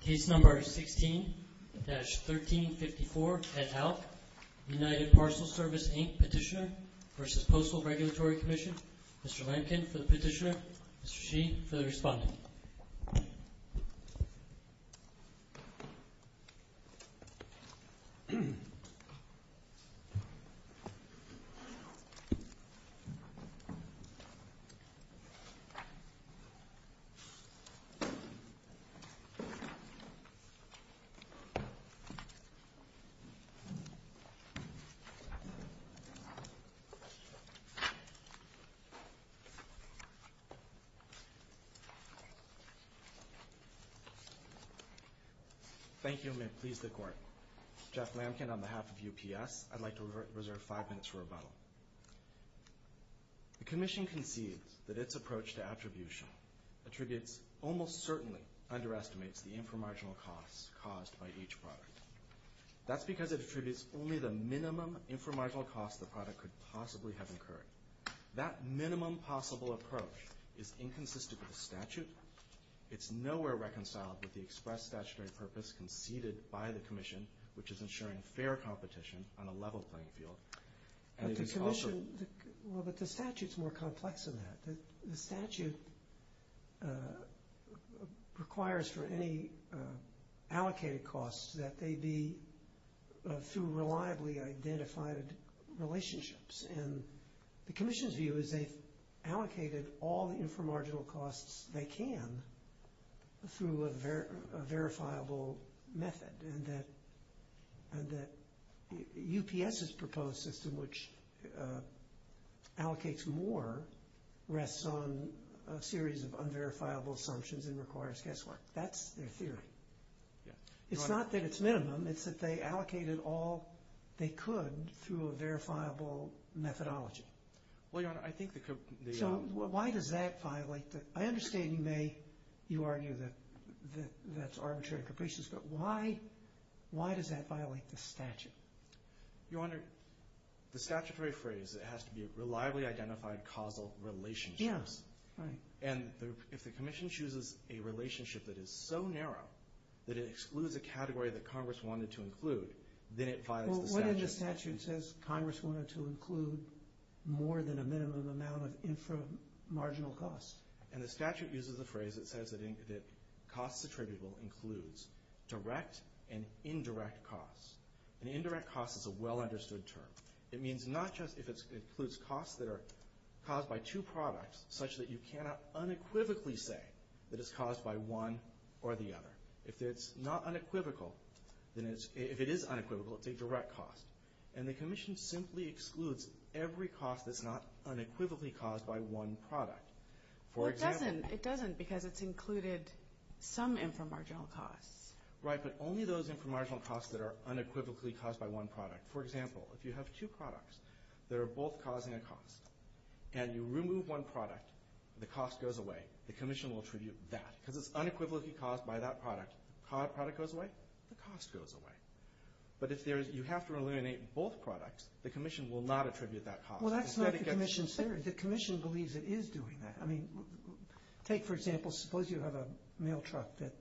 Case No. 16-1354, et al., United Parcel Service, Inc. Petitioner v. Postal Regulatory Commission. Mr. Lampkin for the petitioner, Mr. Sheehy for the respondent. Thank you, and may it please the Court. Jeff Lampkin on behalf of UPS. I'd like to reserve five minutes for rebuttal. The Commission concedes that its approach to attribution almost certainly underestimates the inframarginal costs caused by each product. That's because it attributes only the minimum inframarginal costs the product could possibly have incurred. That minimum possible approach is inconsistent with the statute, it's nowhere reconciled with the express statutory purpose conceded by the Commission, which is ensuring fair competition on a level playing field, and it is altered. Well, but the statute's more complex than that. The statute requires for any allocated costs that they be through reliably identified relationships, and the Commission's view is they've allocated all the inframarginal costs they can through a verifiable method, and that UPS's proposed system, which allocates more, rests on a series of unverifiable assumptions and requires guesswork. That's their theory. It's not that it's minimum, it's that they allocated all they could through a verifiable methodology. Well, Your Honor, So why does that violate the... I understand you may argue that that's arbitrary capricious, but why does that violate the statute? Your Honor, the statutory phrase, it has to be reliably identified causal relationships, and if the Commission chooses a relationship that is so narrow that it excludes a category that Congress wanted to include, then it violates the statute. Well, what if the statute says Congress wanted to include more than a minimum amount of inframarginal costs? And the statute uses the phrase that says that costs attributable includes direct and indirect costs. An indirect cost is a well-understood term. It means not just if it includes costs that are caused by two products such that you cannot unequivocally say that it's caused by one or the other. If it's not unequivocal, if it is unequivocal, it's a direct cost. And the Commission simply excludes every cost that's not unequivocally caused by one product. Well, it doesn't. It doesn't because it's included some inframarginal costs. Right, but only those inframarginal costs that are unequivocally caused by one product. For example, if you have two products that are both causing a cost, and you remove one product, the cost goes away, the Commission will attribute that. Because it's unequivocally caused by that product. The product goes away, the cost goes away. But if you have to eliminate both products, the Commission will not attribute that cost. Well, that's not the Commission's theory. The Commission believes it is doing that. I mean, take for example, suppose you have a mail truck that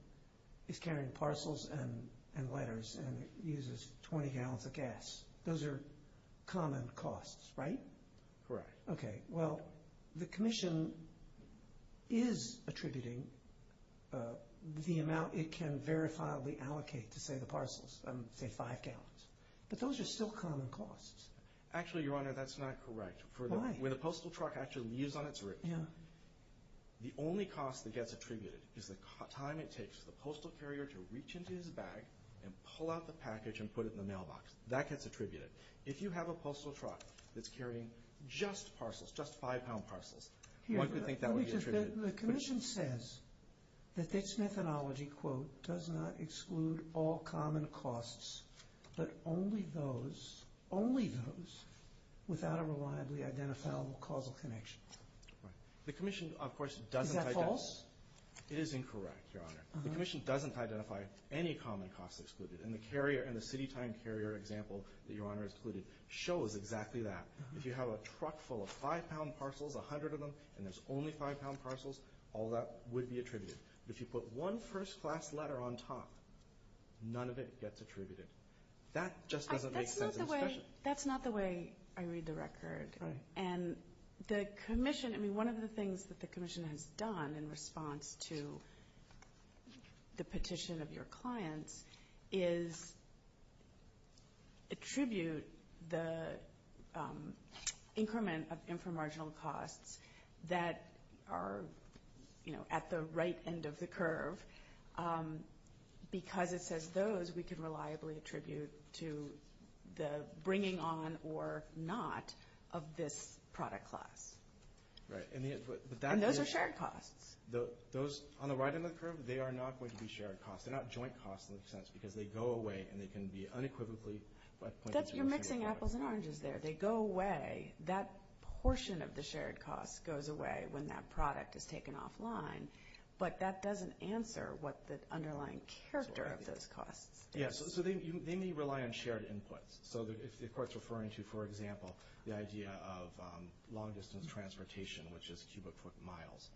is carrying parcels and letters and uses 20 gallons of gas. Those are common costs, right? Correct. Okay, well, the Commission is attributing the amount it can verifiably allocate to, say, the parcels, say five gallons. But those are still common costs. Actually, Your Honor, that's not correct. Why? When a postal truck actually leaves on its route, the only cost that gets attributed is the time it takes for the postal carrier to reach into his bag and pull out the package and put it in the mailbox. That gets attributed. If you have a postal truck that's carrying just parcels, just five-pound parcels, one could think that would be attributed. The Commission says that its methodology, quote, does not exclude all common costs, but only those, only those, without a reliably identifiable causal connection. Right. The Commission, of course, doesn't identify... Is that false? It is incorrect, Your Honor. The Commission doesn't identify any common costs excluded. And the carrier, and the city time carrier example that Your Honor has included, shows exactly that. If you have a truck full of five-pound parcels, a hundred of them, and there's only five-pound parcels, all that would be attributed. But if you put one first-class letter on top, none of it gets attributed. That just doesn't make sense. That's not the way I read the record. Right. And the Commission, I mean, one of the things that the Commission has done in response to the petition of your clients is attribute the increment of inframarginal costs that are at the right end of the curve. Because it says those, we can reliably attribute to the bringing on or not of this product class. Right. And those are shared costs. Those on the right end of the curve, they are not going to be shared costs. They're not joint costs in a sense because they go away and they can be unequivocally... You're mixing apples and oranges there. They go away. That portion of the shared costs goes away when that product is taken offline. But that doesn't answer what the underlying character of those costs is. Yes. So they may rely on shared inputs. So if the court's referring to, for example, the idea of long-distance transportation, which is cubic foot miles,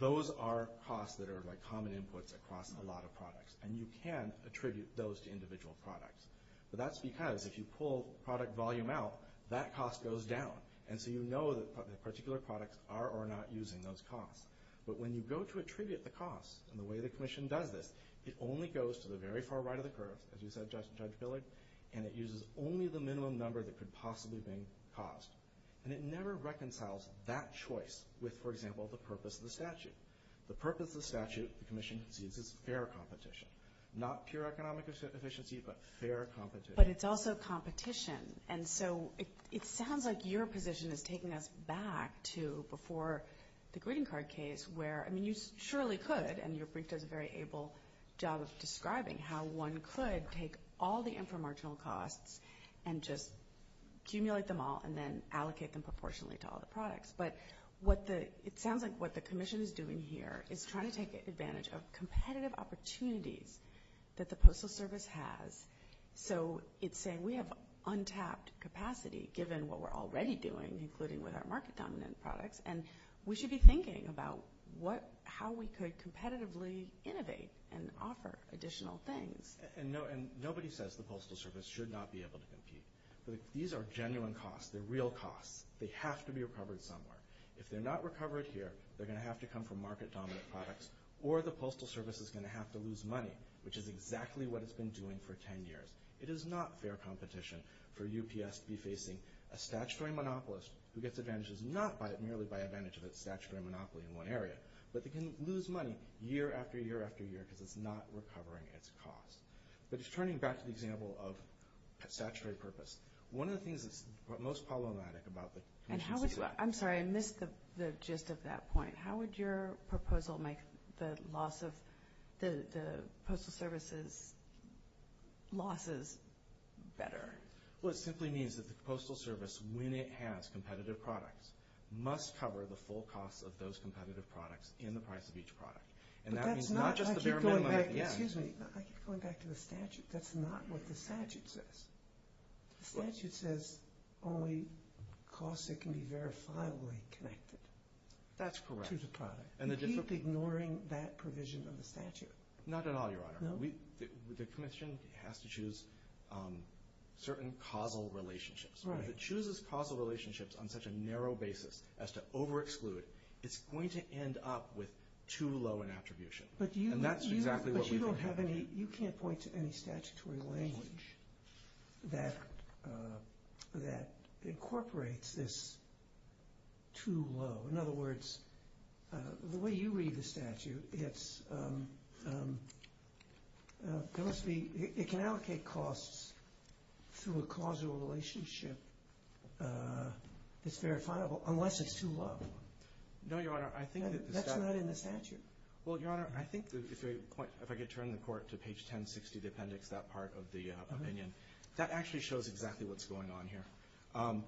those are costs that are common inputs across a lot of products. And you can attribute those to individual products. But that's because if you pull product volume out, that cost goes down. And so you know that particular products are or are not using those costs. But when you go to attribute the costs and the way the Commission does this, it only goes to the very far right of the curve, as you said, Judge Billig, and it uses only the minimum number that could possibly be caused. And it never reconciles that choice with, for example, the purpose of the statute. The purpose of the statute, the Commission sees, is fair competition. Not pure economic efficiency, but fair competition. But it's also competition. And so it sounds like your position is taking us back to before the greeting card case where, I mean, you surely could, and your brief does a very able job of describing how one could take all the inframarginal costs and just accumulate them all and then allocate them proportionally to all the products. But it sounds like what the Commission is doing here is trying to take advantage of competitive opportunities that the Postal Service has. So it's saying we have untapped capacity given what we're already doing, including with our market-dominant products, and we should be thinking about how we could competitively innovate and offer additional things. And nobody says the Postal Service should not be able to compete. These are genuine costs. They're real costs. They have to be recovered somewhere. If they're not recovered here, they're going to have to come from market-dominant products, or the Postal Service is going to have to lose money, which is exactly what it's been doing for ten years. It is not fair competition for UPS to be facing a statutory monopolist who gets advantages not merely by advantage of its statutory monopoly in one area, but they can lose money year after year after year because it's not recovering its costs. But it's turning back to the example of statutory purpose. One of the things that's most problematic about the Commission's decision... I'm sorry, I missed the gist of that point. How would your proposal make the loss of the Postal Service's losses better? Well, it simply means that the Postal Service, when it has competitive products, must cover the full costs of those competitive products in the price of each product. But that's not... And that means not just the bare minimum at the end. Excuse me. I keep going back to the statute. That's not what the statute says. The statute says only costs that can be verifiably connected to the product. That's correct. You keep ignoring that provision of the statute. Not at all, Your Honor. No? The Commission has to choose certain causal relationships. Right. If it chooses causal relationships on such a narrow basis as to overexclude, it's going to end up with too low an attribution. And that's exactly what we think. But you don't have any... You can't point to any statutory language that incorporates this too low. In other words, the way you read the statute, it's... There must be... It can allocate costs through a causal relationship that's verifiable unless it's too low. No, Your Honor. That's not in the statute. Well, Your Honor, I think if I could turn the Court to page 1060, the appendix, that part of the opinion, that actually shows exactly what's going on here.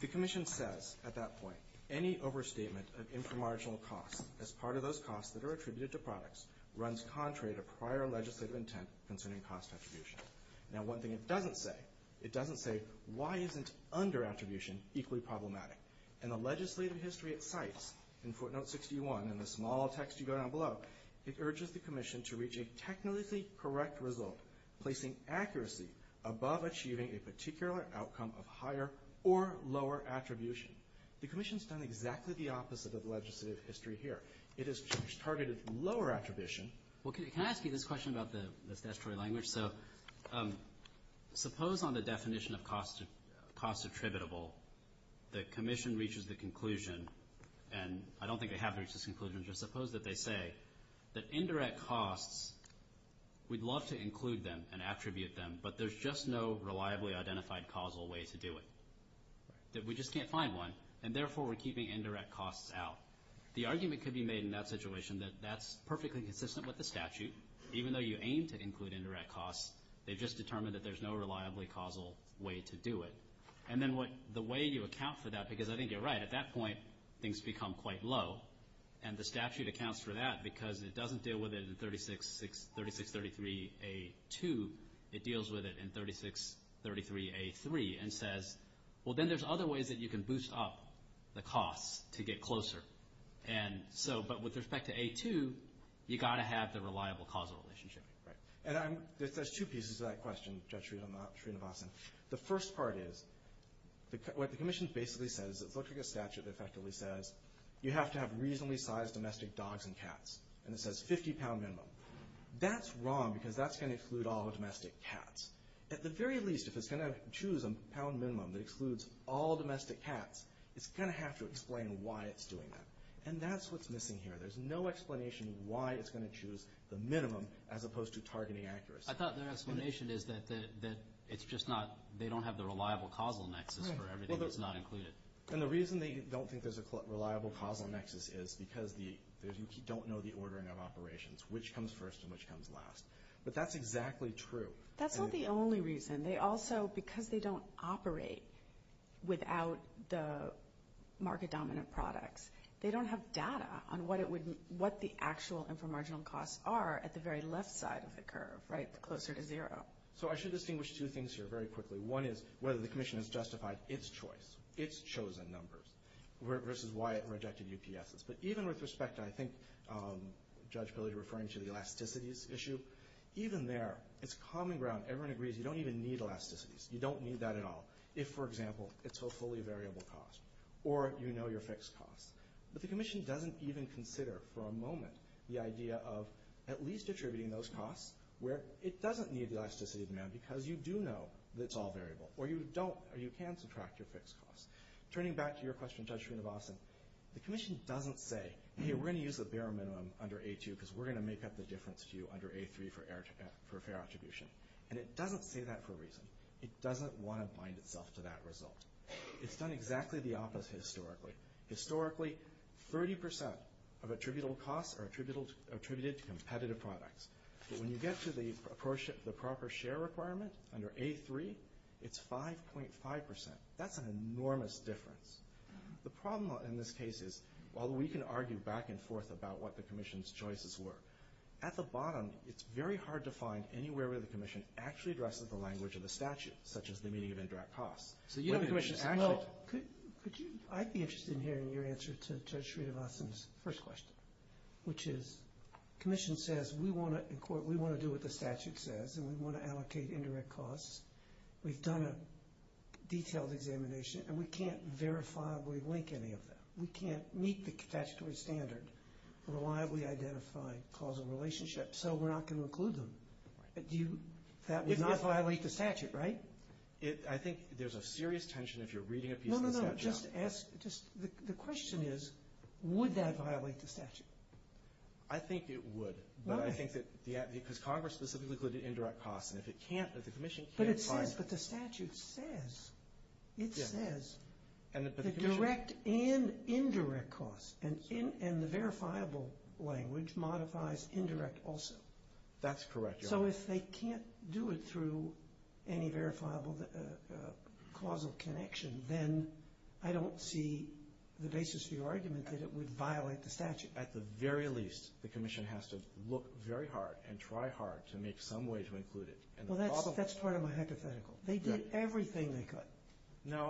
The Commission says at that point, any overstatement of inframarginal costs as part of those costs that are attributed to products runs contrary to prior legislative intent concerning cost attribution. Now, one thing it doesn't say, it doesn't say, why isn't underattribution equally problematic? In the legislative history it cites, in footnote 61, in the small text you go down below, it urges the Commission to reach a technically correct result, placing accuracy above achieving a particular outcome of higher or lower attribution. The Commission's done exactly the opposite of legislative history here. It has targeted lower attribution. Well, can I ask you this question about the statutory language? So suppose on the definition of cost attributable the Commission reaches the conclusion, and I don't think they have reached this conclusion, just suppose that they say that indirect costs, we'd love to include them and attribute them, but there's just no reliably identified causal way to do it, that we just can't find one, and therefore we're keeping indirect costs out. The argument could be made in that situation that that's perfectly consistent with the statute. Even though you aim to include indirect costs, they've just determined that there's no reliably causal way to do it. And then the way you account for that, because I think you're right, at that point things become quite low, and the statute accounts for that because it doesn't deal with it in 3633A2, it deals with it in 3633A3, and says, well, then there's other ways that you can boost up the costs to get closer. But with respect to A2, you've got to have the reliable causal relationship. And there's two pieces to that question, Judge Srinivasan. The first part is, what the Commission basically says, it looks like a statute that effectively says you have to have reasonably sized domestic dogs and cats, and it says 50 pound minimum. That's wrong because that's going to include all the domestic cats. At the very least, if it's going to choose a pound minimum that excludes all domestic cats, it's going to have to explain why it's doing that. And that's what's missing here. There's no explanation why it's going to choose the minimum as opposed to targeting accuracy. I thought their explanation is that it's just not, they don't have the reliable causal nexus for everything that's not included. And the reason they don't think there's a reliable causal nexus is because you don't know the ordering of operations, which comes first and which comes last. But that's exactly true. That's not the only reason. They also, because they don't operate without the market-dominant products, they don't have data on what the actual inframarginal costs are at the very left side of the curve, closer to zero. So I should distinguish two things here very quickly. One is whether the Commission has justified its choice, its chosen numbers, versus why it rejected UPSs. But even with respect to, I think, Judge Pillay referring to the elasticities issue, even there, it's common ground. Everyone agrees you don't even need elasticities. You don't need that at all if, for example, it's a fully variable cost or you know your fixed costs. But the Commission doesn't even consider for a moment the idea of at least attributing those costs where it doesn't need the elasticity demand because you do know it's all variable or you don't or you can subtract your fixed costs. Turning back to your question, Judge Srinivasan, the Commission doesn't say, hey, we're going to use the bare minimum under A2 because we're going to make up the difference to you under A3 for fair attribution. And it doesn't say that for a reason. It doesn't want to bind itself to that result. It's done exactly the opposite historically. Historically, 30% of attributable costs are attributed to competitive products. But when you get to the proper share requirement under A3, it's 5.5%. That's an enormous difference. The problem in this case is, although we can argue back and forth about what the Commission's choices were, at the bottom it's very hard to find anywhere where the Commission actually addresses the language of the statute, such as the meaning of indirect costs. So you have a question. Well, I'd be interested in hearing your answer to Judge Srinivasan's first question, which is the Commission says we want to do what the statute says and we want to allocate indirect costs. We've done a detailed examination and we can't verifiably link any of that. We can't meet the statutory standard, reliably identify causal relationships, so we're not going to include them. That would not violate the statute, right? I think there's a serious tension if you're reading a piece of the statute. No, no, no. The question is, would that violate the statute? I think it would. Why? Because Congress specifically included indirect costs. But it says, but the statute says, it says the direct and indirect costs, and the verifiable language modifies indirect also. That's correct, Your Honor. So if they can't do it through any verifiable causal connection, then I don't see the basis for your argument that it would violate the statute. At the very least, the Commission has to look very hard and try hard to make some way to include it. Well, that's part of my hypothetical. They did everything they could.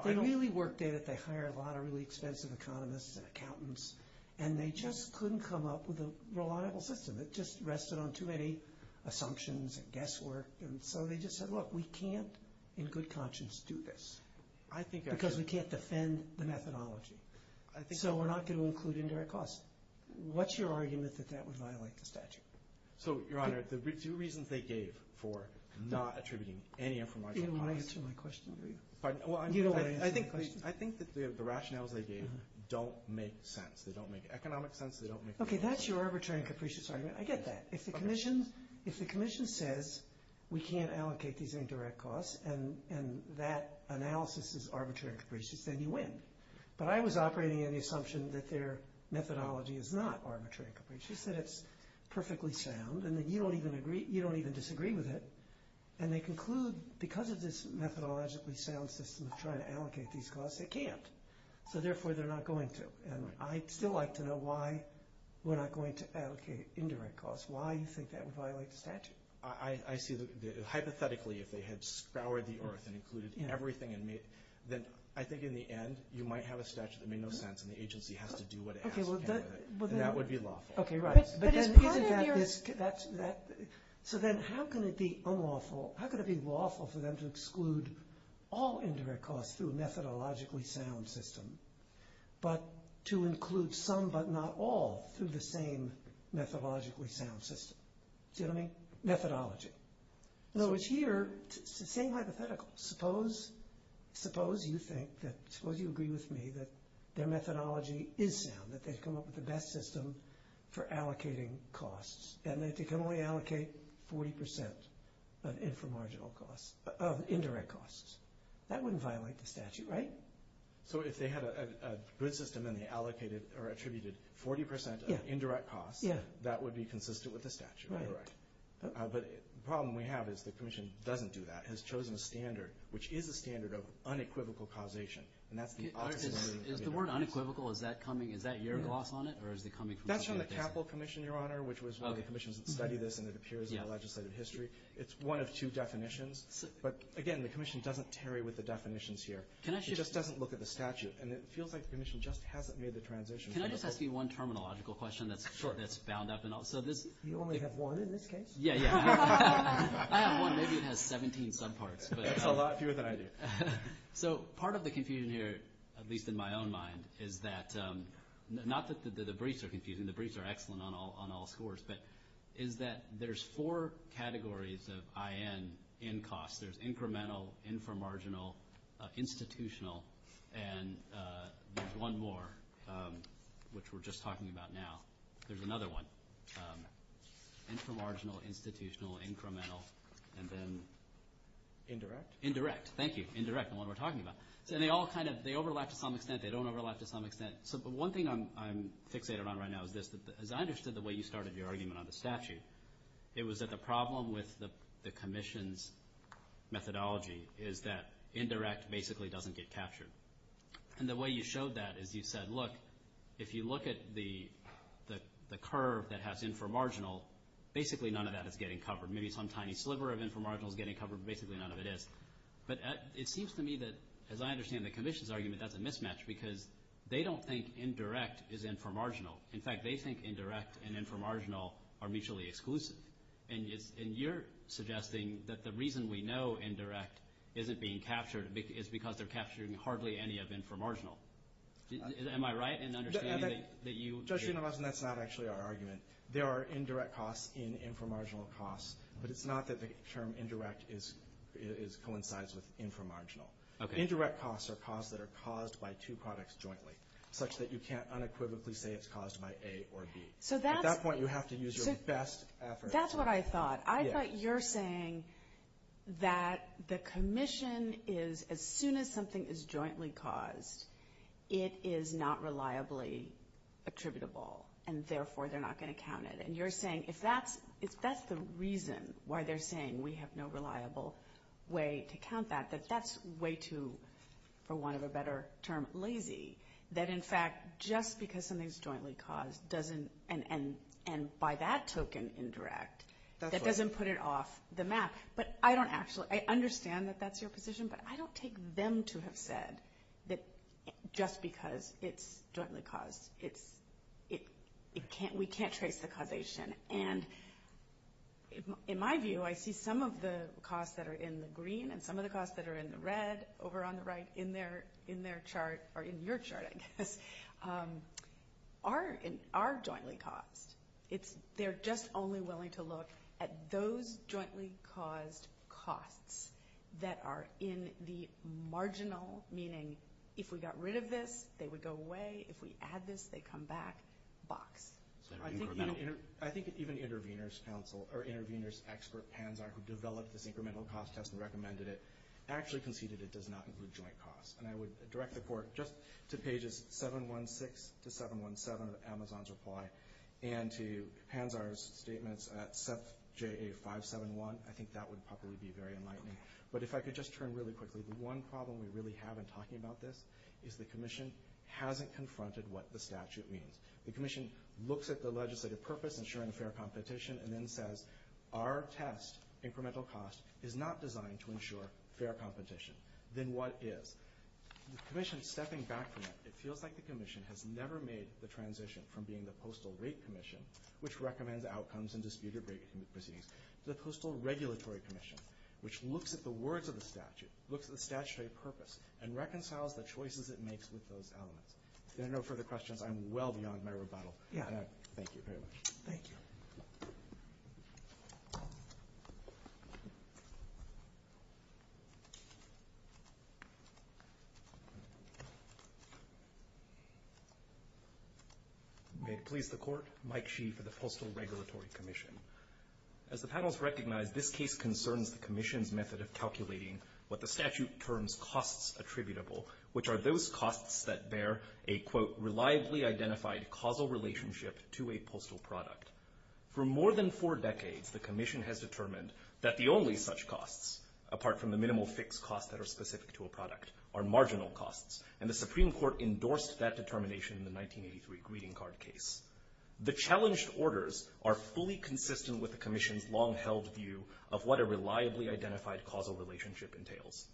They really worked at it. They hired a lot of really expensive economists and accountants, and they just couldn't come up with a reliable system. It just rested on too many assumptions and guesswork, and so they just said, look, we can't in good conscience do this because we can't defend the methodology. So we're not going to include indirect costs. What's your argument that that would violate the statute? So, Your Honor, the two reasons they gave for not attributing any information to Congress. You don't want to answer my question, do you? Pardon? You don't want to answer my question? I think that the rationales they gave don't make sense. They don't make economic sense. They don't make legal sense. Okay, that's your arbitrary and capricious argument. I get that. If the Commission says we can't allocate these indirect costs and that analysis is arbitrary and capricious, then you win. But I was operating on the assumption that their methodology is not arbitrary and capricious, that it's perfectly sound, and that you don't even disagree with it. And they conclude because of this methodologically sound system of trying to allocate these costs, they can't, so therefore they're not going to. And I'd still like to know why we're not going to allocate indirect costs, why you think that would violate the statute. I see that hypothetically, if they had scoured the earth and included everything, then I think in the end you might have a statute that made no sense and the agency has to do what it has to do with it. And that would be lawful. Okay, right. But is part of your... So then how can it be unlawful, how can it be lawful for them to exclude all indirect costs through a methodologically sound system but to include some but not all through the same methodologically sound system? Do you know what I mean? Methodology. No, it's here, it's the same hypothetical. Suppose you agree with me that their methodology is sound, that they've come up with the best system for allocating costs, and that they can only allocate 40% of indirect costs. That wouldn't violate the statute, right? So if they had a good system and they attributed 40% of indirect costs, that would be consistent with the statute, correct? But the problem we have is the Commission doesn't do that. It has chosen a standard, which is a standard of unequivocal causation, and that's the opposite of what it does. Is the word unequivocal, is that your gloss on it or is it coming from something else? That's from the CAPL Commission, Your Honor, which was one of the commissions that studied this and it appears in the legislative history. It's one of two definitions. But, again, the Commission doesn't tarry with the definitions here. It just doesn't look at the statute, and it feels like the Commission just hasn't made the transition. Can I just ask you one terminological question that's bound up? You only have one in this case? Yeah, yeah. I have one. Maybe it has 17 subparts. That's a lot fewer than I do. So part of the confusion here, at least in my own mind, is that not that the briefs are confusing. The briefs are excellent on all scores, but is that there's four categories of IN in costs. There's incremental, inframarginal, institutional, and there's one more, which we're just talking about now. There's another one. Inframarginal, institutional, incremental, and then? Indirect. Indirect. Thank you. Indirect, the one we're talking about. And they all kind of overlap to some extent. They don't overlap to some extent. One thing I'm fixated on right now is this. As I understood the way you started your argument on the statute, it was that the problem with the Commission's methodology is that indirect basically doesn't get captured. And the way you showed that is you said, look, if you look at the curve that has inframarginal, basically none of that is getting covered. Maybe some tiny sliver of inframarginal is getting covered, but basically none of it is. But it seems to me that, as I understand the Commission's argument, that's a mismatch because they don't think indirect is inframarginal. In fact, they think indirect and inframarginal are mutually exclusive. And you're suggesting that the reason we know indirect isn't being captured is because they're capturing hardly any of inframarginal. Am I right in understanding that you – Judge Unamason, that's not actually our argument. There are indirect costs in inframarginal costs, but it's not that the term indirect coincides with inframarginal. Okay. Indirect costs are costs that are caused by two products jointly, such that you can't unequivocally say it's caused by A or B. So that's – That's what I thought. I thought you're saying that the Commission is – as soon as something is jointly caused, it is not reliably attributable, and therefore they're not going to count it. And you're saying if that's – if that's the reason why they're saying we have no reliable way to count that, that that's way too, for want of a better term, lazy. That, in fact, just because something's jointly caused doesn't – and by that token, indirect, that doesn't put it off the map. But I don't actually – I understand that that's your position, but I don't take them to have said that just because it's jointly caused, it's – it can't – we can't trace the causation. And in my view, I see some of the costs that are in the green and some of the costs that are in the red over on the right in their chart – they're just only willing to look at those jointly caused costs that are in the marginal – meaning if we got rid of this, they would go away. If we add this, they come back – box. I think even Intervenors Council – or Intervenors expert, Panzar, who developed this incremental cost test and recommended it, actually conceded it does not include joint costs. And I would direct the Court just to pages 716 to 717 of Amazon's reply, and to Panzar's statements at SEPJA571. I think that would probably be very enlightening. But if I could just turn really quickly, the one problem we really have in talking about this is the Commission hasn't confronted what the statute means. The Commission looks at the legislative purpose, ensuring fair competition, and then says our test, incremental cost, is not designed to ensure fair competition. Then what is? The Commission is stepping back from that. It feels like the Commission has never made the transition from being the Postal Rate Commission, which recommends outcomes and disputed rate proceedings, to the Postal Regulatory Commission, which looks at the words of the statute, looks at the statutory purpose, and reconciles the choices it makes with those elements. If there are no further questions, I'm well beyond my rebuttal. Thank you very much. Thank you. May it please the Court. Mike Shee for the Postal Regulatory Commission. As the panels recognize, this case concerns the Commission's method of calculating what the statute terms costs attributable, which are those costs that bear a, quote, For more than four decades, the Commission has determined that the only such costs, apart from the minimal fixed costs that are specific to a product, are marginal costs, and the Supreme Court endorsed that determination in the 1983 greeting card case. The challenged orders are fully consistent with the Commission's long-held view of what a reliably identified causal relationship entails.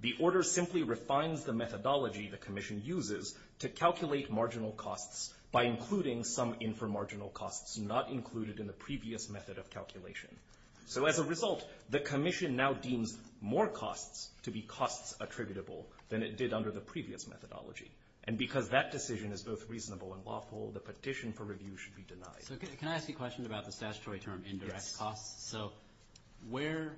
The order simply refines the methodology the Commission uses to calculate marginal costs by including some inframarginal costs not included in the previous method of calculation. So as a result, the Commission now deems more costs to be costs attributable than it did under the previous methodology. And because that decision is both reasonable and lawful, the petition for review should be denied. So can I ask you a question about the statutory term indirect costs? So where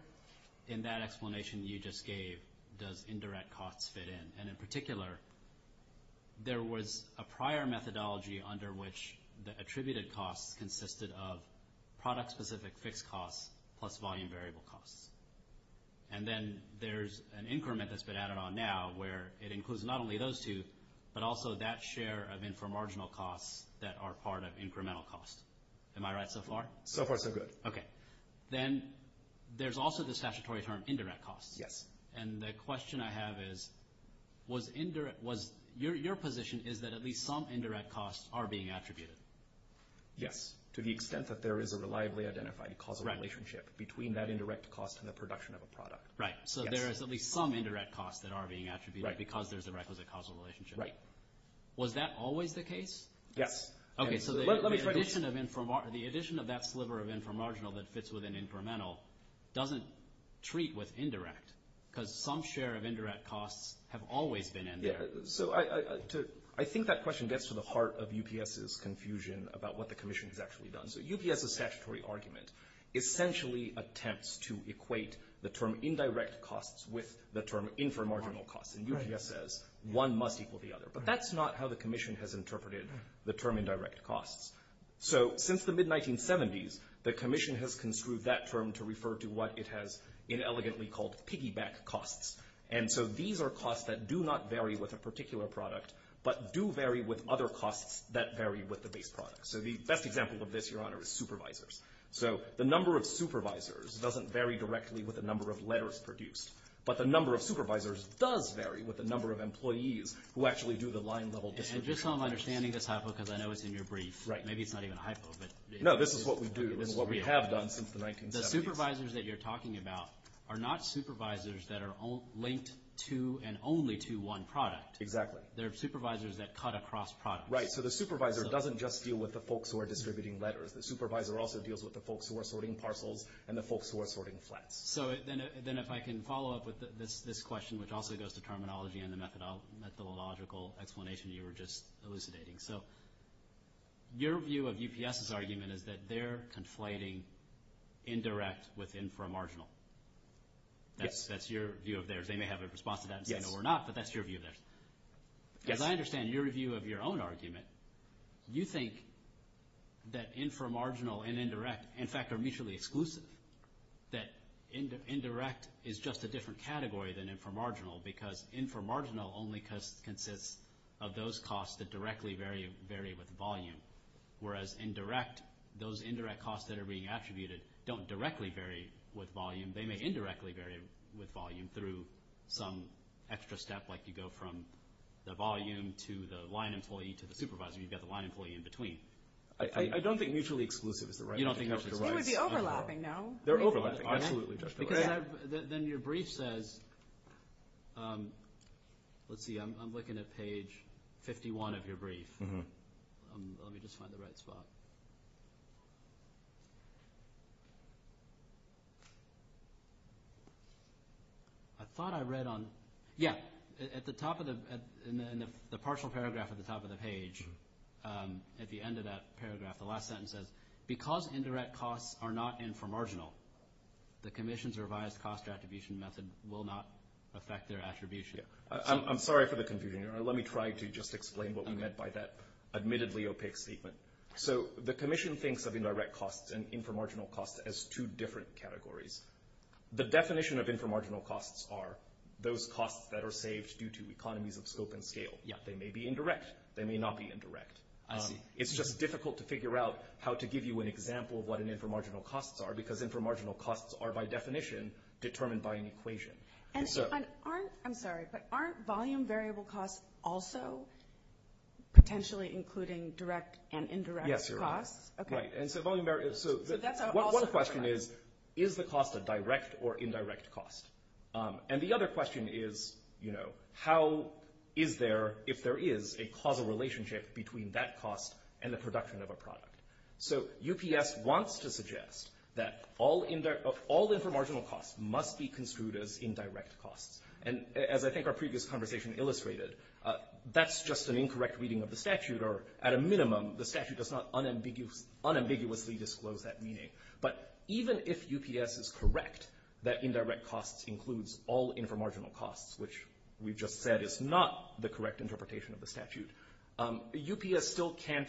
in that explanation you just gave does indirect costs fit in? And in particular, there was a prior methodology under which the attributed costs consisted of product-specific fixed costs plus volume variable costs. And then there's an increment that's been added on now where it includes not only those two, but also that share of inframarginal costs that are part of incremental costs. Am I right so far? So far, so good. Okay. Then there's also the statutory term indirect costs. Yes. And the question I have is, your position is that at least some indirect costs are being attributed. Yes, to the extent that there is a reliably identified causal relationship between that indirect cost and the production of a product. Right, so there is at least some indirect costs that are being attributed because there's a requisite causal relationship. Right. Was that always the case? Yes. Okay, so the addition of that sliver of inframarginal that fits within incremental doesn't treat with indirect because some share of indirect costs have always been indirect. So I think that question gets to the heart of UPS's confusion about what the commission has actually done. So UPS's statutory argument essentially attempts to equate the term indirect costs with the term inframarginal costs. And UPS says one must equal the other. But that's not how the commission has interpreted the term indirect costs. So since the mid-1970s, the commission has construed that term to refer to what it has inelegantly called piggyback costs. And so these are costs that do not vary with a particular product but do vary with other costs that vary with the base product. So the best example of this, Your Honor, is supervisors. So the number of supervisors doesn't vary directly with the number of letters produced. But the number of supervisors does vary with the number of employees who actually do the line-level distribution. And just so I'm understanding this hypo because I know it's in your brief. Right. Maybe it's not even a hypo, but... No, this is what we do. This is what we have done since the 1970s. The supervisors that you're talking about are not supervisors that are linked to and only to one product. Exactly. They're supervisors that cut across products. Right, so the supervisor doesn't just deal with the folks who are distributing letters. The supervisor also deals with the folks who are sorting parcels and the folks who are sorting flats. So then if I can follow up with this question, which also goes to terminology and the methodological explanation you were just elucidating. So your view of UPS's argument is that they're conflating indirect with inframarginal. Yes. That's your view of theirs. They may have a response to that and say no, we're not, but that's your view of theirs. Yes. As I understand your view of your own argument, you think that inframarginal and indirect, in fact, are mutually exclusive. That indirect is just a different category than inframarginal because inframarginal only consists of those costs that directly vary with volume, whereas indirect, those indirect costs that are being attributed don't directly vary with volume. They may indirectly vary with volume through some extra step like you go from the volume to the line employee to the supervisor. You've got the line employee in between. I don't think mutually exclusive is the right answer. You don't think mutually exclusive is the right answer. They would be overlapping, no? They're overlapping, absolutely. Because then your brief says, let's see, I'm looking at page 51 of your brief. Let me just find the right spot. I thought I read on, yeah, at the top of the, in the partial paragraph at the top of the page, at the end of that paragraph, the last sentence says, because indirect costs are not inframarginal, the commission's revised cost attribution method will not affect their attribution. I'm sorry for the confusion. Let me try to just explain what we meant by that admittedly opaque statement. So the commission thinks of indirect costs and inframarginal costs as two different categories. The definition of inframarginal costs are those costs that are saved due to economies of scope and scale. They may be indirect. They may not be indirect. It's just difficult to figure out how to give you an example of what an inframarginal costs are because inframarginal costs are by definition determined by an equation. And aren't, I'm sorry, but aren't volume variable costs also potentially including direct and indirect costs? Yes, you're right. Okay. And so volume variable, so one question is, is the cost a direct or indirect cost? And the other question is, you know, how is there, if there is a causal relationship between that cost and the production of a product? So UPS wants to suggest that all inframarginal costs must be construed as indirect costs. And as I think our previous conversation illustrated, that's just an incorrect reading of the statute or at a minimum, the statute does not unambiguously disclose that meaning. But even if UPS is correct that indirect costs includes all inframarginal costs, which we've just said is not the correct interpretation of the statute, UPS still can't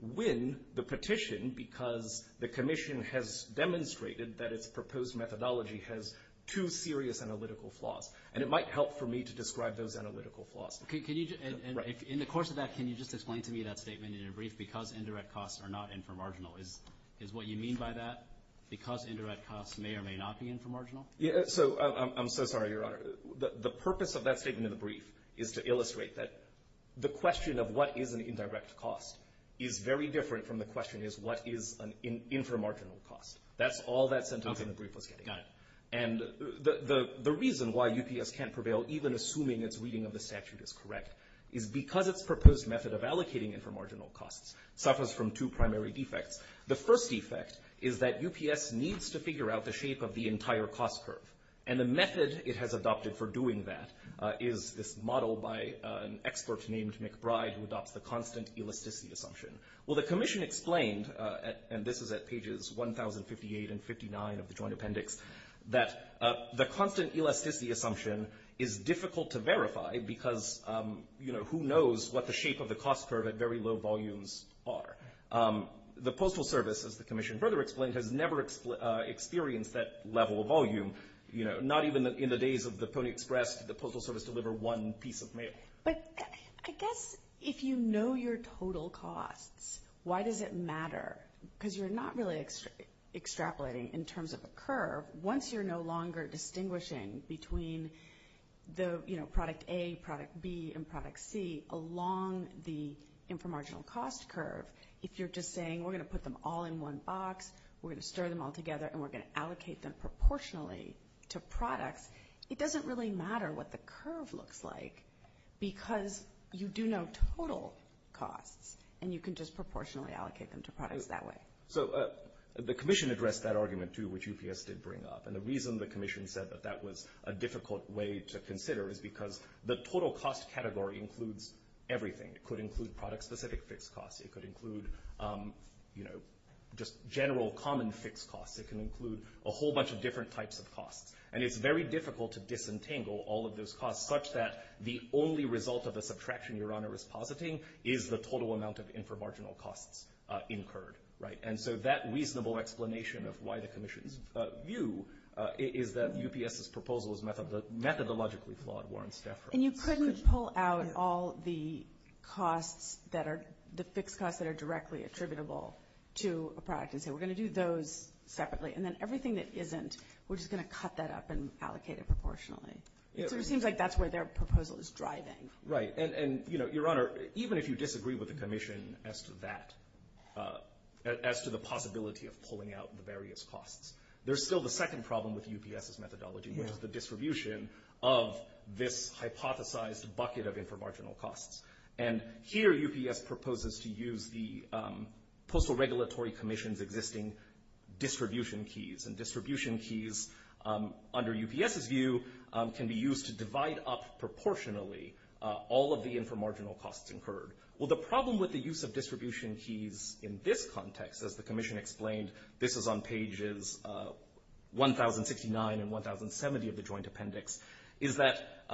win the petition because the commission has demonstrated that its proposed methodology has two serious analytical flaws. And it might help for me to describe those analytical flaws. Can you, in the course of that, can you just explain to me that statement in a brief, because indirect costs are not inframarginal, is what you mean by that? Because indirect costs may or may not be inframarginal? Yeah, so I'm so sorry, Your Honor. The purpose of that statement in the brief is to illustrate that the question of what is an indirect cost is very different from the question of what is an inframarginal cost. That's all that sentence in the brief was getting. Got it. And the reason why UPS can't prevail, even assuming its reading of the statute is correct, is because its proposed method of allocating inframarginal costs suffers from two primary defects. The first defect is that UPS needs to figure out the shape of the entire cost curve. And the method it has adopted for doing that is this model by an expert named McBride who adopts the constant elasticity assumption. Well, the Commission explained, and this is at pages 1058 and 59 of the Joint Appendix, that the constant elasticity assumption is difficult to verify because, you know, who knows what the shape of the cost curve at very low volumes are. The Postal Service, as the Commission further explained, has never experienced that level of volume, you know, not even in the days of the Pony Express did the Postal Service deliver one piece of mail. But I guess if you know your total costs, why does it matter? Because you're not really extrapolating in terms of a curve. Once you're no longer distinguishing between the, you know, product A, product B, and product C along the inframarginal cost curve, if you're just saying, we're gonna put them all in one box, we're gonna stir them all together, and we're gonna allocate them proportionally to products, it doesn't really matter what the curve looks like because you do know total costs and you can just proportionally allocate them to products that way. So the Commission addressed that argument too, which UPS did bring up. And the reason the Commission said that that was a difficult way to consider is because the total cost category includes everything. It could include product-specific fixed costs. It could include, you know, just general common fixed costs. It can include a whole bunch of different types of costs. And it's very difficult to disentangle all of those costs such that the only result of a subtraction Your Honor is positing is the total amount of inframarginal costs incurred, right? And so that reasonable explanation of why the Commission's view is that UPS's proposal is methodologically flawed, Warren Stafford. And you couldn't pull out all the costs that are, the fixed costs that are directly attributable to a product and say, we're gonna do those separately and then everything that isn't, we're just gonna cut that up and allocate it proportionally. It sort of seems like that's where their proposal is driving. Right. And, you know, Your Honor, even if you disagree with the Commission as to that, as to the possibility of pulling out the various costs, there's still the second problem with UPS's methodology, which is the distribution of this hypothesized bucket of inframarginal costs. And here UPS proposes to use the Postal Regulatory Commission's existing distribution keys. And distribution keys, under UPS's view, can be used to divide up proportionally all of the inframarginal costs incurred. Well, the problem with the use of distribution keys in this context, as the Commission explained, this is on pages 1069 and 1070 of the Joint Appendix, is that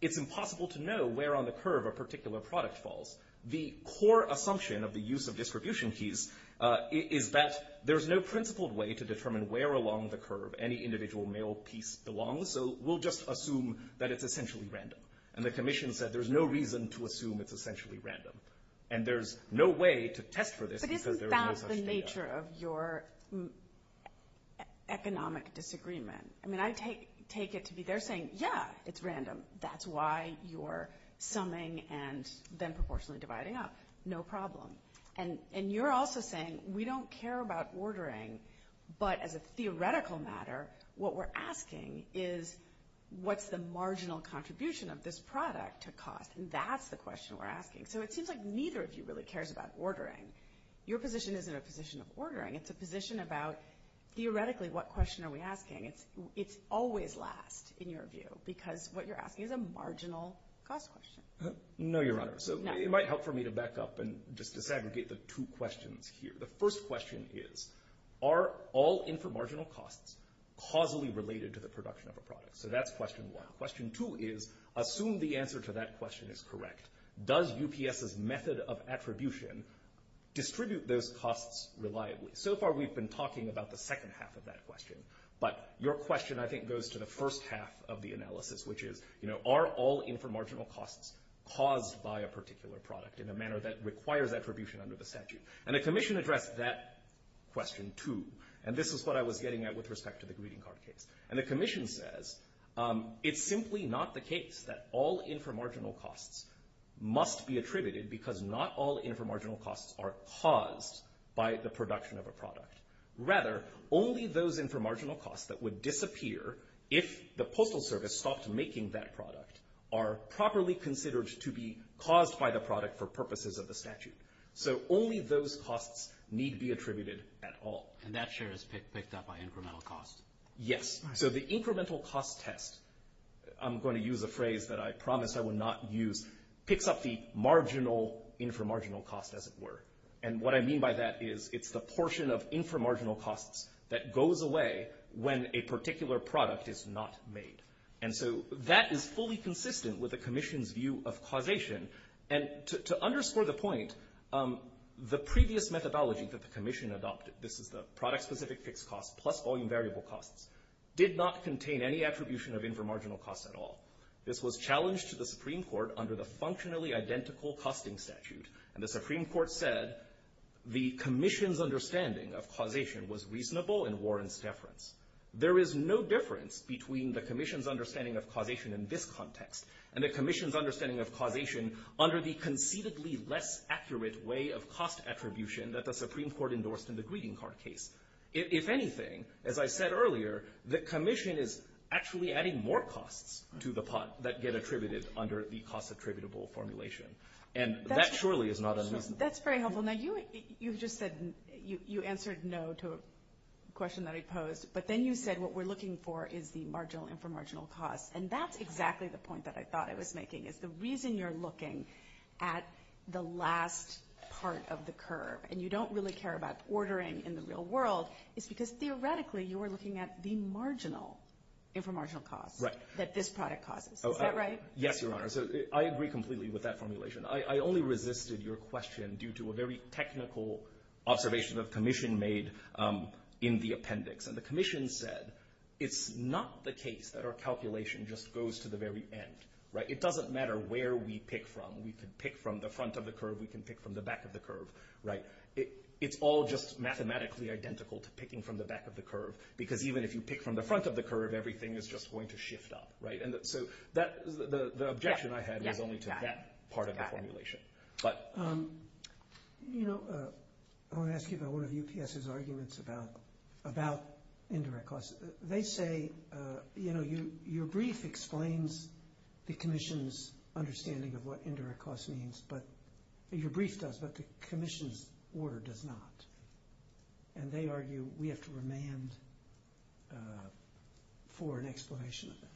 it's impossible to know where on the curve a particular product falls. The core assumption of the use of distribution keys is that there's no principled way to determine where along the curve any individual mail piece belongs, so we'll just assume that it's essentially random. And the Commission said there's no reason to assume it's essentially random. And there's no way to test for this because there is no such data. But isn't that the nature of your economic disagreement? I mean, I take it to be they're saying, yeah, it's random, that's why you're summing and then proportionally dividing up, no problem. And you're also saying we don't care about ordering but as a theoretical matter, what we're asking is what's the marginal contribution of this product to cost? And that's the question we're asking. So it seems like neither of you really cares about ordering. Your position isn't a position of ordering, it's a position about, theoretically, what question are we asking? It's always last, in your view, because what you're asking is a marginal cost question. No, Your Honor. So it might help for me to back up and just disaggregate the two questions here. The first question is, are all inframarginal costs causally related to the production of a product? So that's question one. Question two is, assume the answer to that question is correct. Does UPS's method of attribution distribute those costs reliably? So far, we've been talking about the second half of that question. But your question, I think, goes to the first half of the analysis, which is, are all inframarginal costs caused by a particular product in a manner that requires attribution under the statute? And the commission addressed that question, too. And this is what I was getting at with respect to the greeting card case. And the commission says, it's simply not the case that all inframarginal costs must be attributed because not all inframarginal costs are caused by the production of a product. Rather, only those inframarginal costs that would disappear if the Postal Service stopped making that product are properly considered to be caused by the product for purposes of the statute. So only those costs need to be attributed at all. And that share is picked up by incremental costs? Yes. So the incremental cost test, I'm going to use a phrase that I promise I will not use, picks up the marginal inframarginal cost, as it were. And what I mean by that is it's the portion of inframarginal costs that goes away when a particular product is not made. And so that is fully consistent with the commission's view of causation. And to underscore the point, the previous methodology that the commission adopted, this is the product-specific fixed costs plus volume variable costs, did not contain any attribution of inframarginal costs at all. This was challenged to the Supreme Court under the functionally identical costing statute. And the Supreme Court said the commission's understanding of causation was reasonable in Warren's deference. There is no difference between the commission's understanding of causation in this context and the commission's understanding of causation under the conceitedly less accurate way of cost attribution that the Supreme Court endorsed in the greeting card case. If anything, as I said earlier, the commission is actually adding more costs to the pot that get attributed under the cost attributable formulation. And that surely is not unreasonable. That's very helpful. Now, you just said... You answered no to a question that I posed, but then you said what we're looking for is the marginal inframarginal cost. And that's exactly the point that I thought I was making, is the reason you're looking at the last part of the curve and you don't really care about ordering in the real world is because, theoretically, you are looking at the marginal inframarginal cost that this product causes. Is that right? Yes, Your Honor. So I agree completely with that formulation. I only resisted your question due to a very technical observation the commission made in the appendix. And the commission said it's not the case that our calculation just goes to the very end. It doesn't matter where we pick from. We can pick from the front of the curve. We can pick from the back of the curve. It's all just mathematically identical to picking from the back of the curve because even if you pick from the front of the curve, everything is just going to shift up. So the objection I had is only to that part of the formulation. I want to ask you about one of UPS's arguments about indirect costs. They say, you know, your brief explains the commission's understanding of what indirect costs means, but your brief does, but the commission's order does not. And they argue we have to remand for an explanation of that.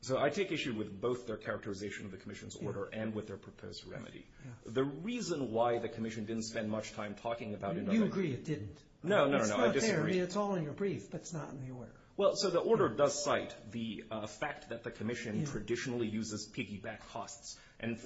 So I take issue with both their characterization of the commission's order and with their proposed remedy. The reason why the commission didn't spend much time talking about indirect costs... Do you agree it didn't? No, no, no, I disagree. It's not there. I mean, it's all in your brief, but it's not in the order. Well, so the order does cite the fact that the commission traditionally uses piggyback costs. And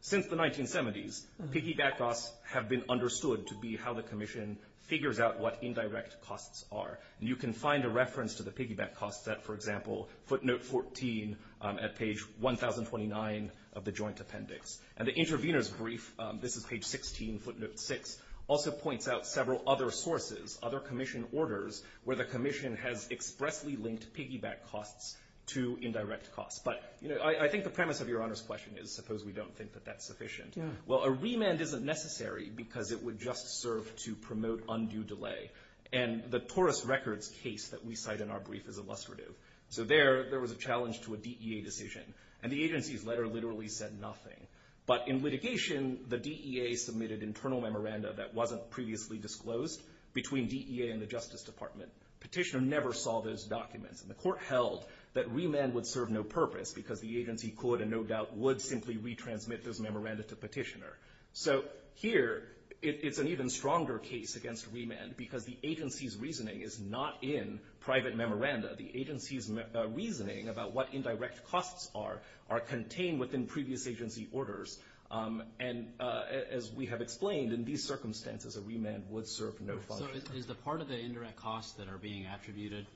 since the 1970s, piggyback costs have been understood to be how the commission figures out what indirect costs are. And you can find a reference to the piggyback costs at, for example, footnote 14 at page 1029 of the joint appendix. And the intervener's brief, this is page 16, footnote 6, also points out several other sources, other commission orders, where the commission has expressly linked piggyback costs to indirect costs. But I think the premise of Your Honor's question is suppose we don't think that that's sufficient. Well, a remand isn't necessary because it would just serve to promote undue delay. And the Taurus Records case that we cite in our brief is illustrative. So there, there was a challenge to a DEA decision. And the agency's letter literally said nothing. But in litigation, the DEA submitted internal memoranda that wasn't previously disclosed between DEA and the Justice Department. Petitioner never saw those documents. And the court held that remand would serve no purpose because the agency could, and no doubt would, simply retransmit those memoranda to petitioner. So here, it's an even stronger case against remand because the agency's reasoning is not in private memoranda. The agency's reasoning about what indirect costs are are contained within previous agency orders. And as we have explained, in these circumstances, a remand would serve no function. So is the part of the indirect costs that are being attributed,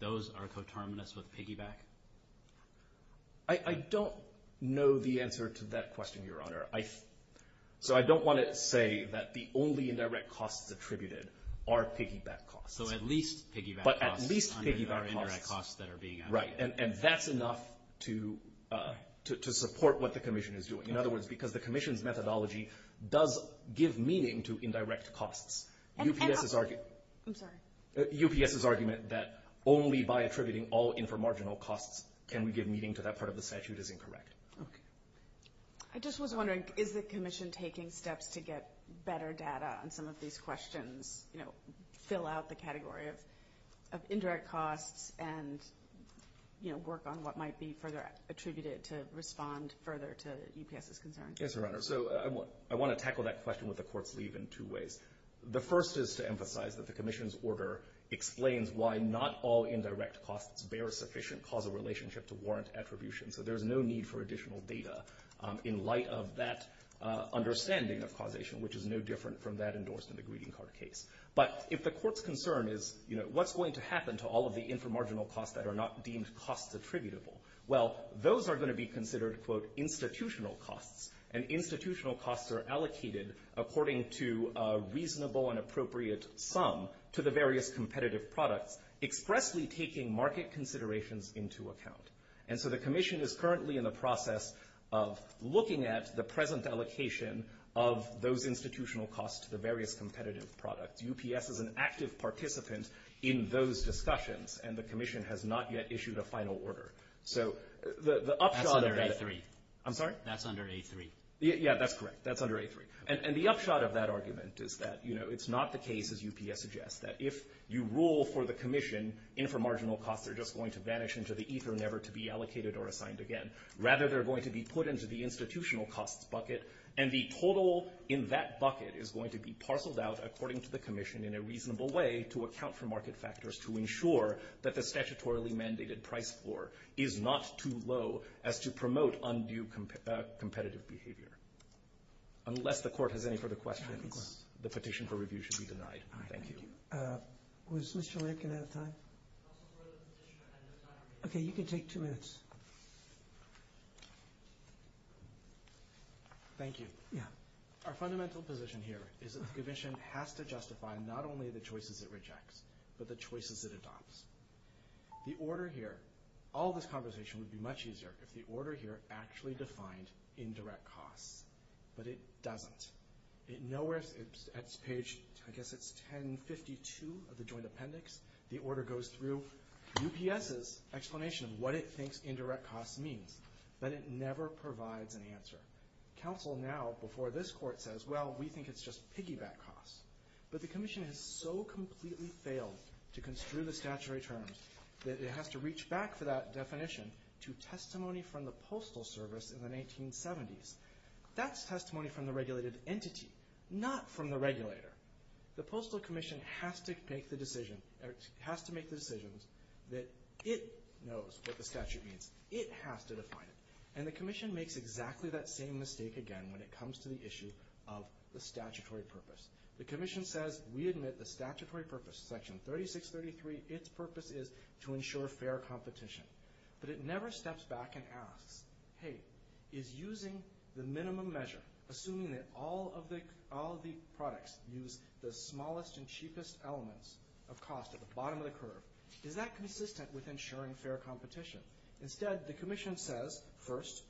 those are coterminous with piggyback? I don't know the answer to that question, Your Honor. So I don't want to say that the only indirect costs attributed are piggyback costs. So at least piggyback costs. But at least piggyback costs. Are indirect costs that are being attributed. Right, and that's enough to support what the commission is doing. In other words, because the commission's methodology does give meaning to indirect costs. UPS's argument that only by attributing all inframarginal costs can we give meaning to that part of the statute is incorrect. I just was wondering, is the commission taking steps to get better data on some of these questions, fill out the category of indirect costs and work on what might be further attributed to respond further to UPS's concerns? Yes, Your Honor. So I want to tackle that question with the court's leave in two ways. The first is to emphasize that the commission's order explains why not all indirect costs bear sufficient causal relationship to warrant attribution. So there's no need for additional data in light of that understanding of causation, which is no different from that endorsed in the greeting card case. But if the court's concern is, what's going to happen to all of the inframarginal costs that are not deemed cost attributable? Well, those are going to be considered, quote, institutional costs, and institutional costs are allocated according to a reasonable and appropriate sum to the various competitive products, expressly taking market considerations into account. And so the commission is currently in the process of looking at the present allocation of those institutional costs to the various competitive products. UPS is an active participant in those discussions, and the commission has not yet issued a final order. So the upshot of that... That's under A3. I'm sorry? That's under A3. Yeah, that's correct. That's under A3. And the upshot of that argument is that, you know, it's not the case, as UPS suggests, that if you rule for the commission, inframarginal costs are just going to vanish into the ether, never to be allocated or assigned again. Rather, they're going to be put into the institutional costs bucket, and the total in that bucket is going to be parceled out according to the commission in a reasonable way to account for market factors to ensure that the statutorily mandated price floor is not too low as to promote undue competitive behavior. Unless the court has any further questions, the petition for review should be denied. Thank you. Was Mr. Lincoln out of time? Okay, you can take two minutes. Thank you. Our fundamental position here is that the commission has to justify not only the choices it rejects, but the choices it adopts. The order here... All this conversation would be much easier if the order here actually defined indirect costs. But it doesn't. It nowhere... It's page... I guess it's 1052 of the joint appendix. The order goes through UPS's explanation of what it thinks indirect costs means, but it never provides an answer. Counsel now, before this court, says, well, we think it's just piggyback costs. But the commission has so completely failed to construe the statutory terms that it has to reach back for that definition to testimony from the Postal Service in the 1970s. That's testimony from the regulated entity, not from the regulator. The Postal Commission has to make the decision that it knows what the statute means. It has to define it. And the commission makes exactly that same mistake again when it comes to the issue of the statutory purpose. The commission says, we admit the statutory purpose, section 3633, its purpose is to ensure fair competition. But it never steps back and asks, hey, is using the minimum measure, assuming that all of the products use the smallest and cheapest elements of cost at the bottom of the curve, is that consistent with ensuring fair competition? Instead, the commission says, first,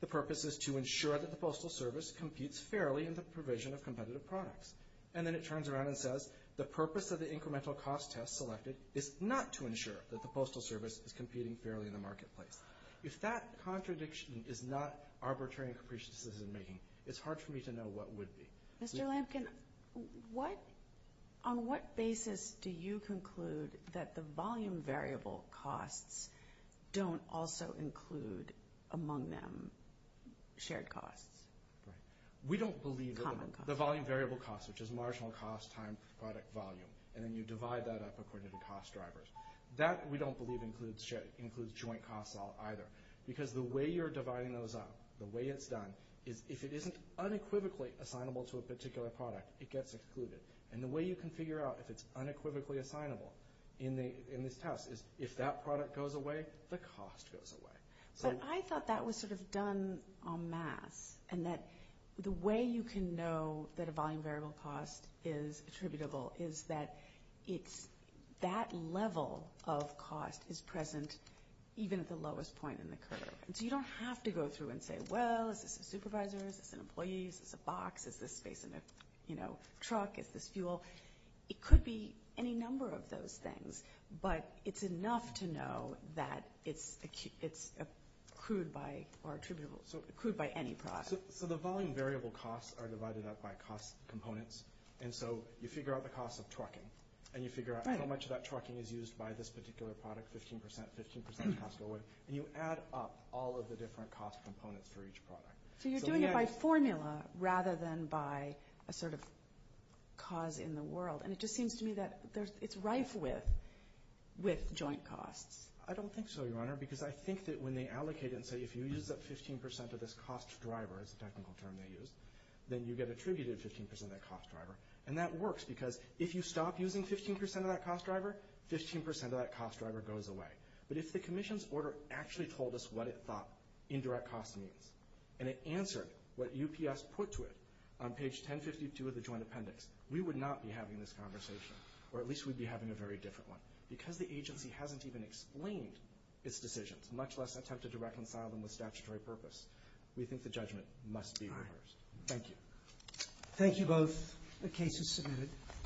the purpose is to ensure that the Postal Service competes fairly in the provision of competitive products. And then it turns around and says, the purpose of the incremental cost test selected is not to ensure that the Postal Service is competing fairly in the marketplace. If that contradiction is not arbitrary and capricious in its making, it's hard for me to know what would be. Mr. Lampkin, on what basis do you conclude that the volume variable costs don't also include, among them, shared costs? We don't believe the volume variable costs, which is marginal cost, time, product, volume. And then you divide that up according to the cost drivers. That, we don't believe, includes joint costs all either. Because the way you're dividing those up, the way it's done, is if it isn't unequivocally assignable to a particular product, it gets excluded. And the way you can figure out if it's unequivocally assignable in this test is if that product goes away, the cost goes away. But I thought that was sort of done en masse, and that the way you can know that a volume variable cost is attributable is that that level of cost is present even at the lowest point in the curve. And so you don't have to go through and say, well, is this a supervisor, is this an employee, is this a box, is this space in a truck, is this fuel? It could be any number of those things. But it's enough to know that it's accrued by any product. So the volume variable costs are divided up by cost components. And so you figure out the cost of trucking. And you figure out how much of that trucking is used by this particular product, 15%, 15% cost of oil. And you add up all of the different cost components for each product. So you're doing it by formula rather than by a sort of cause in the world. And it just seems to me that it's rife with joint costs. I don't think so, Your Honor, because I think that when they allocate it and say, if you use up 15% of this cost driver, is the technical term they used, then you get attributed 15% of that cost driver. And that works, because if you stop using 15% of that cost driver, 15% of that cost driver goes away. But if the commission's order actually told us what it thought indirect cost means, and it answered what UPS put to it on page 1052 of the joint appendix, we would not be having this conversation. Or at least we'd be having a very different one. Because the agency hasn't even explained its decisions, much less attempted to reconcile them with statutory purpose, we think the judgment must be reversed. Thank you. Thank you both. The case is submitted.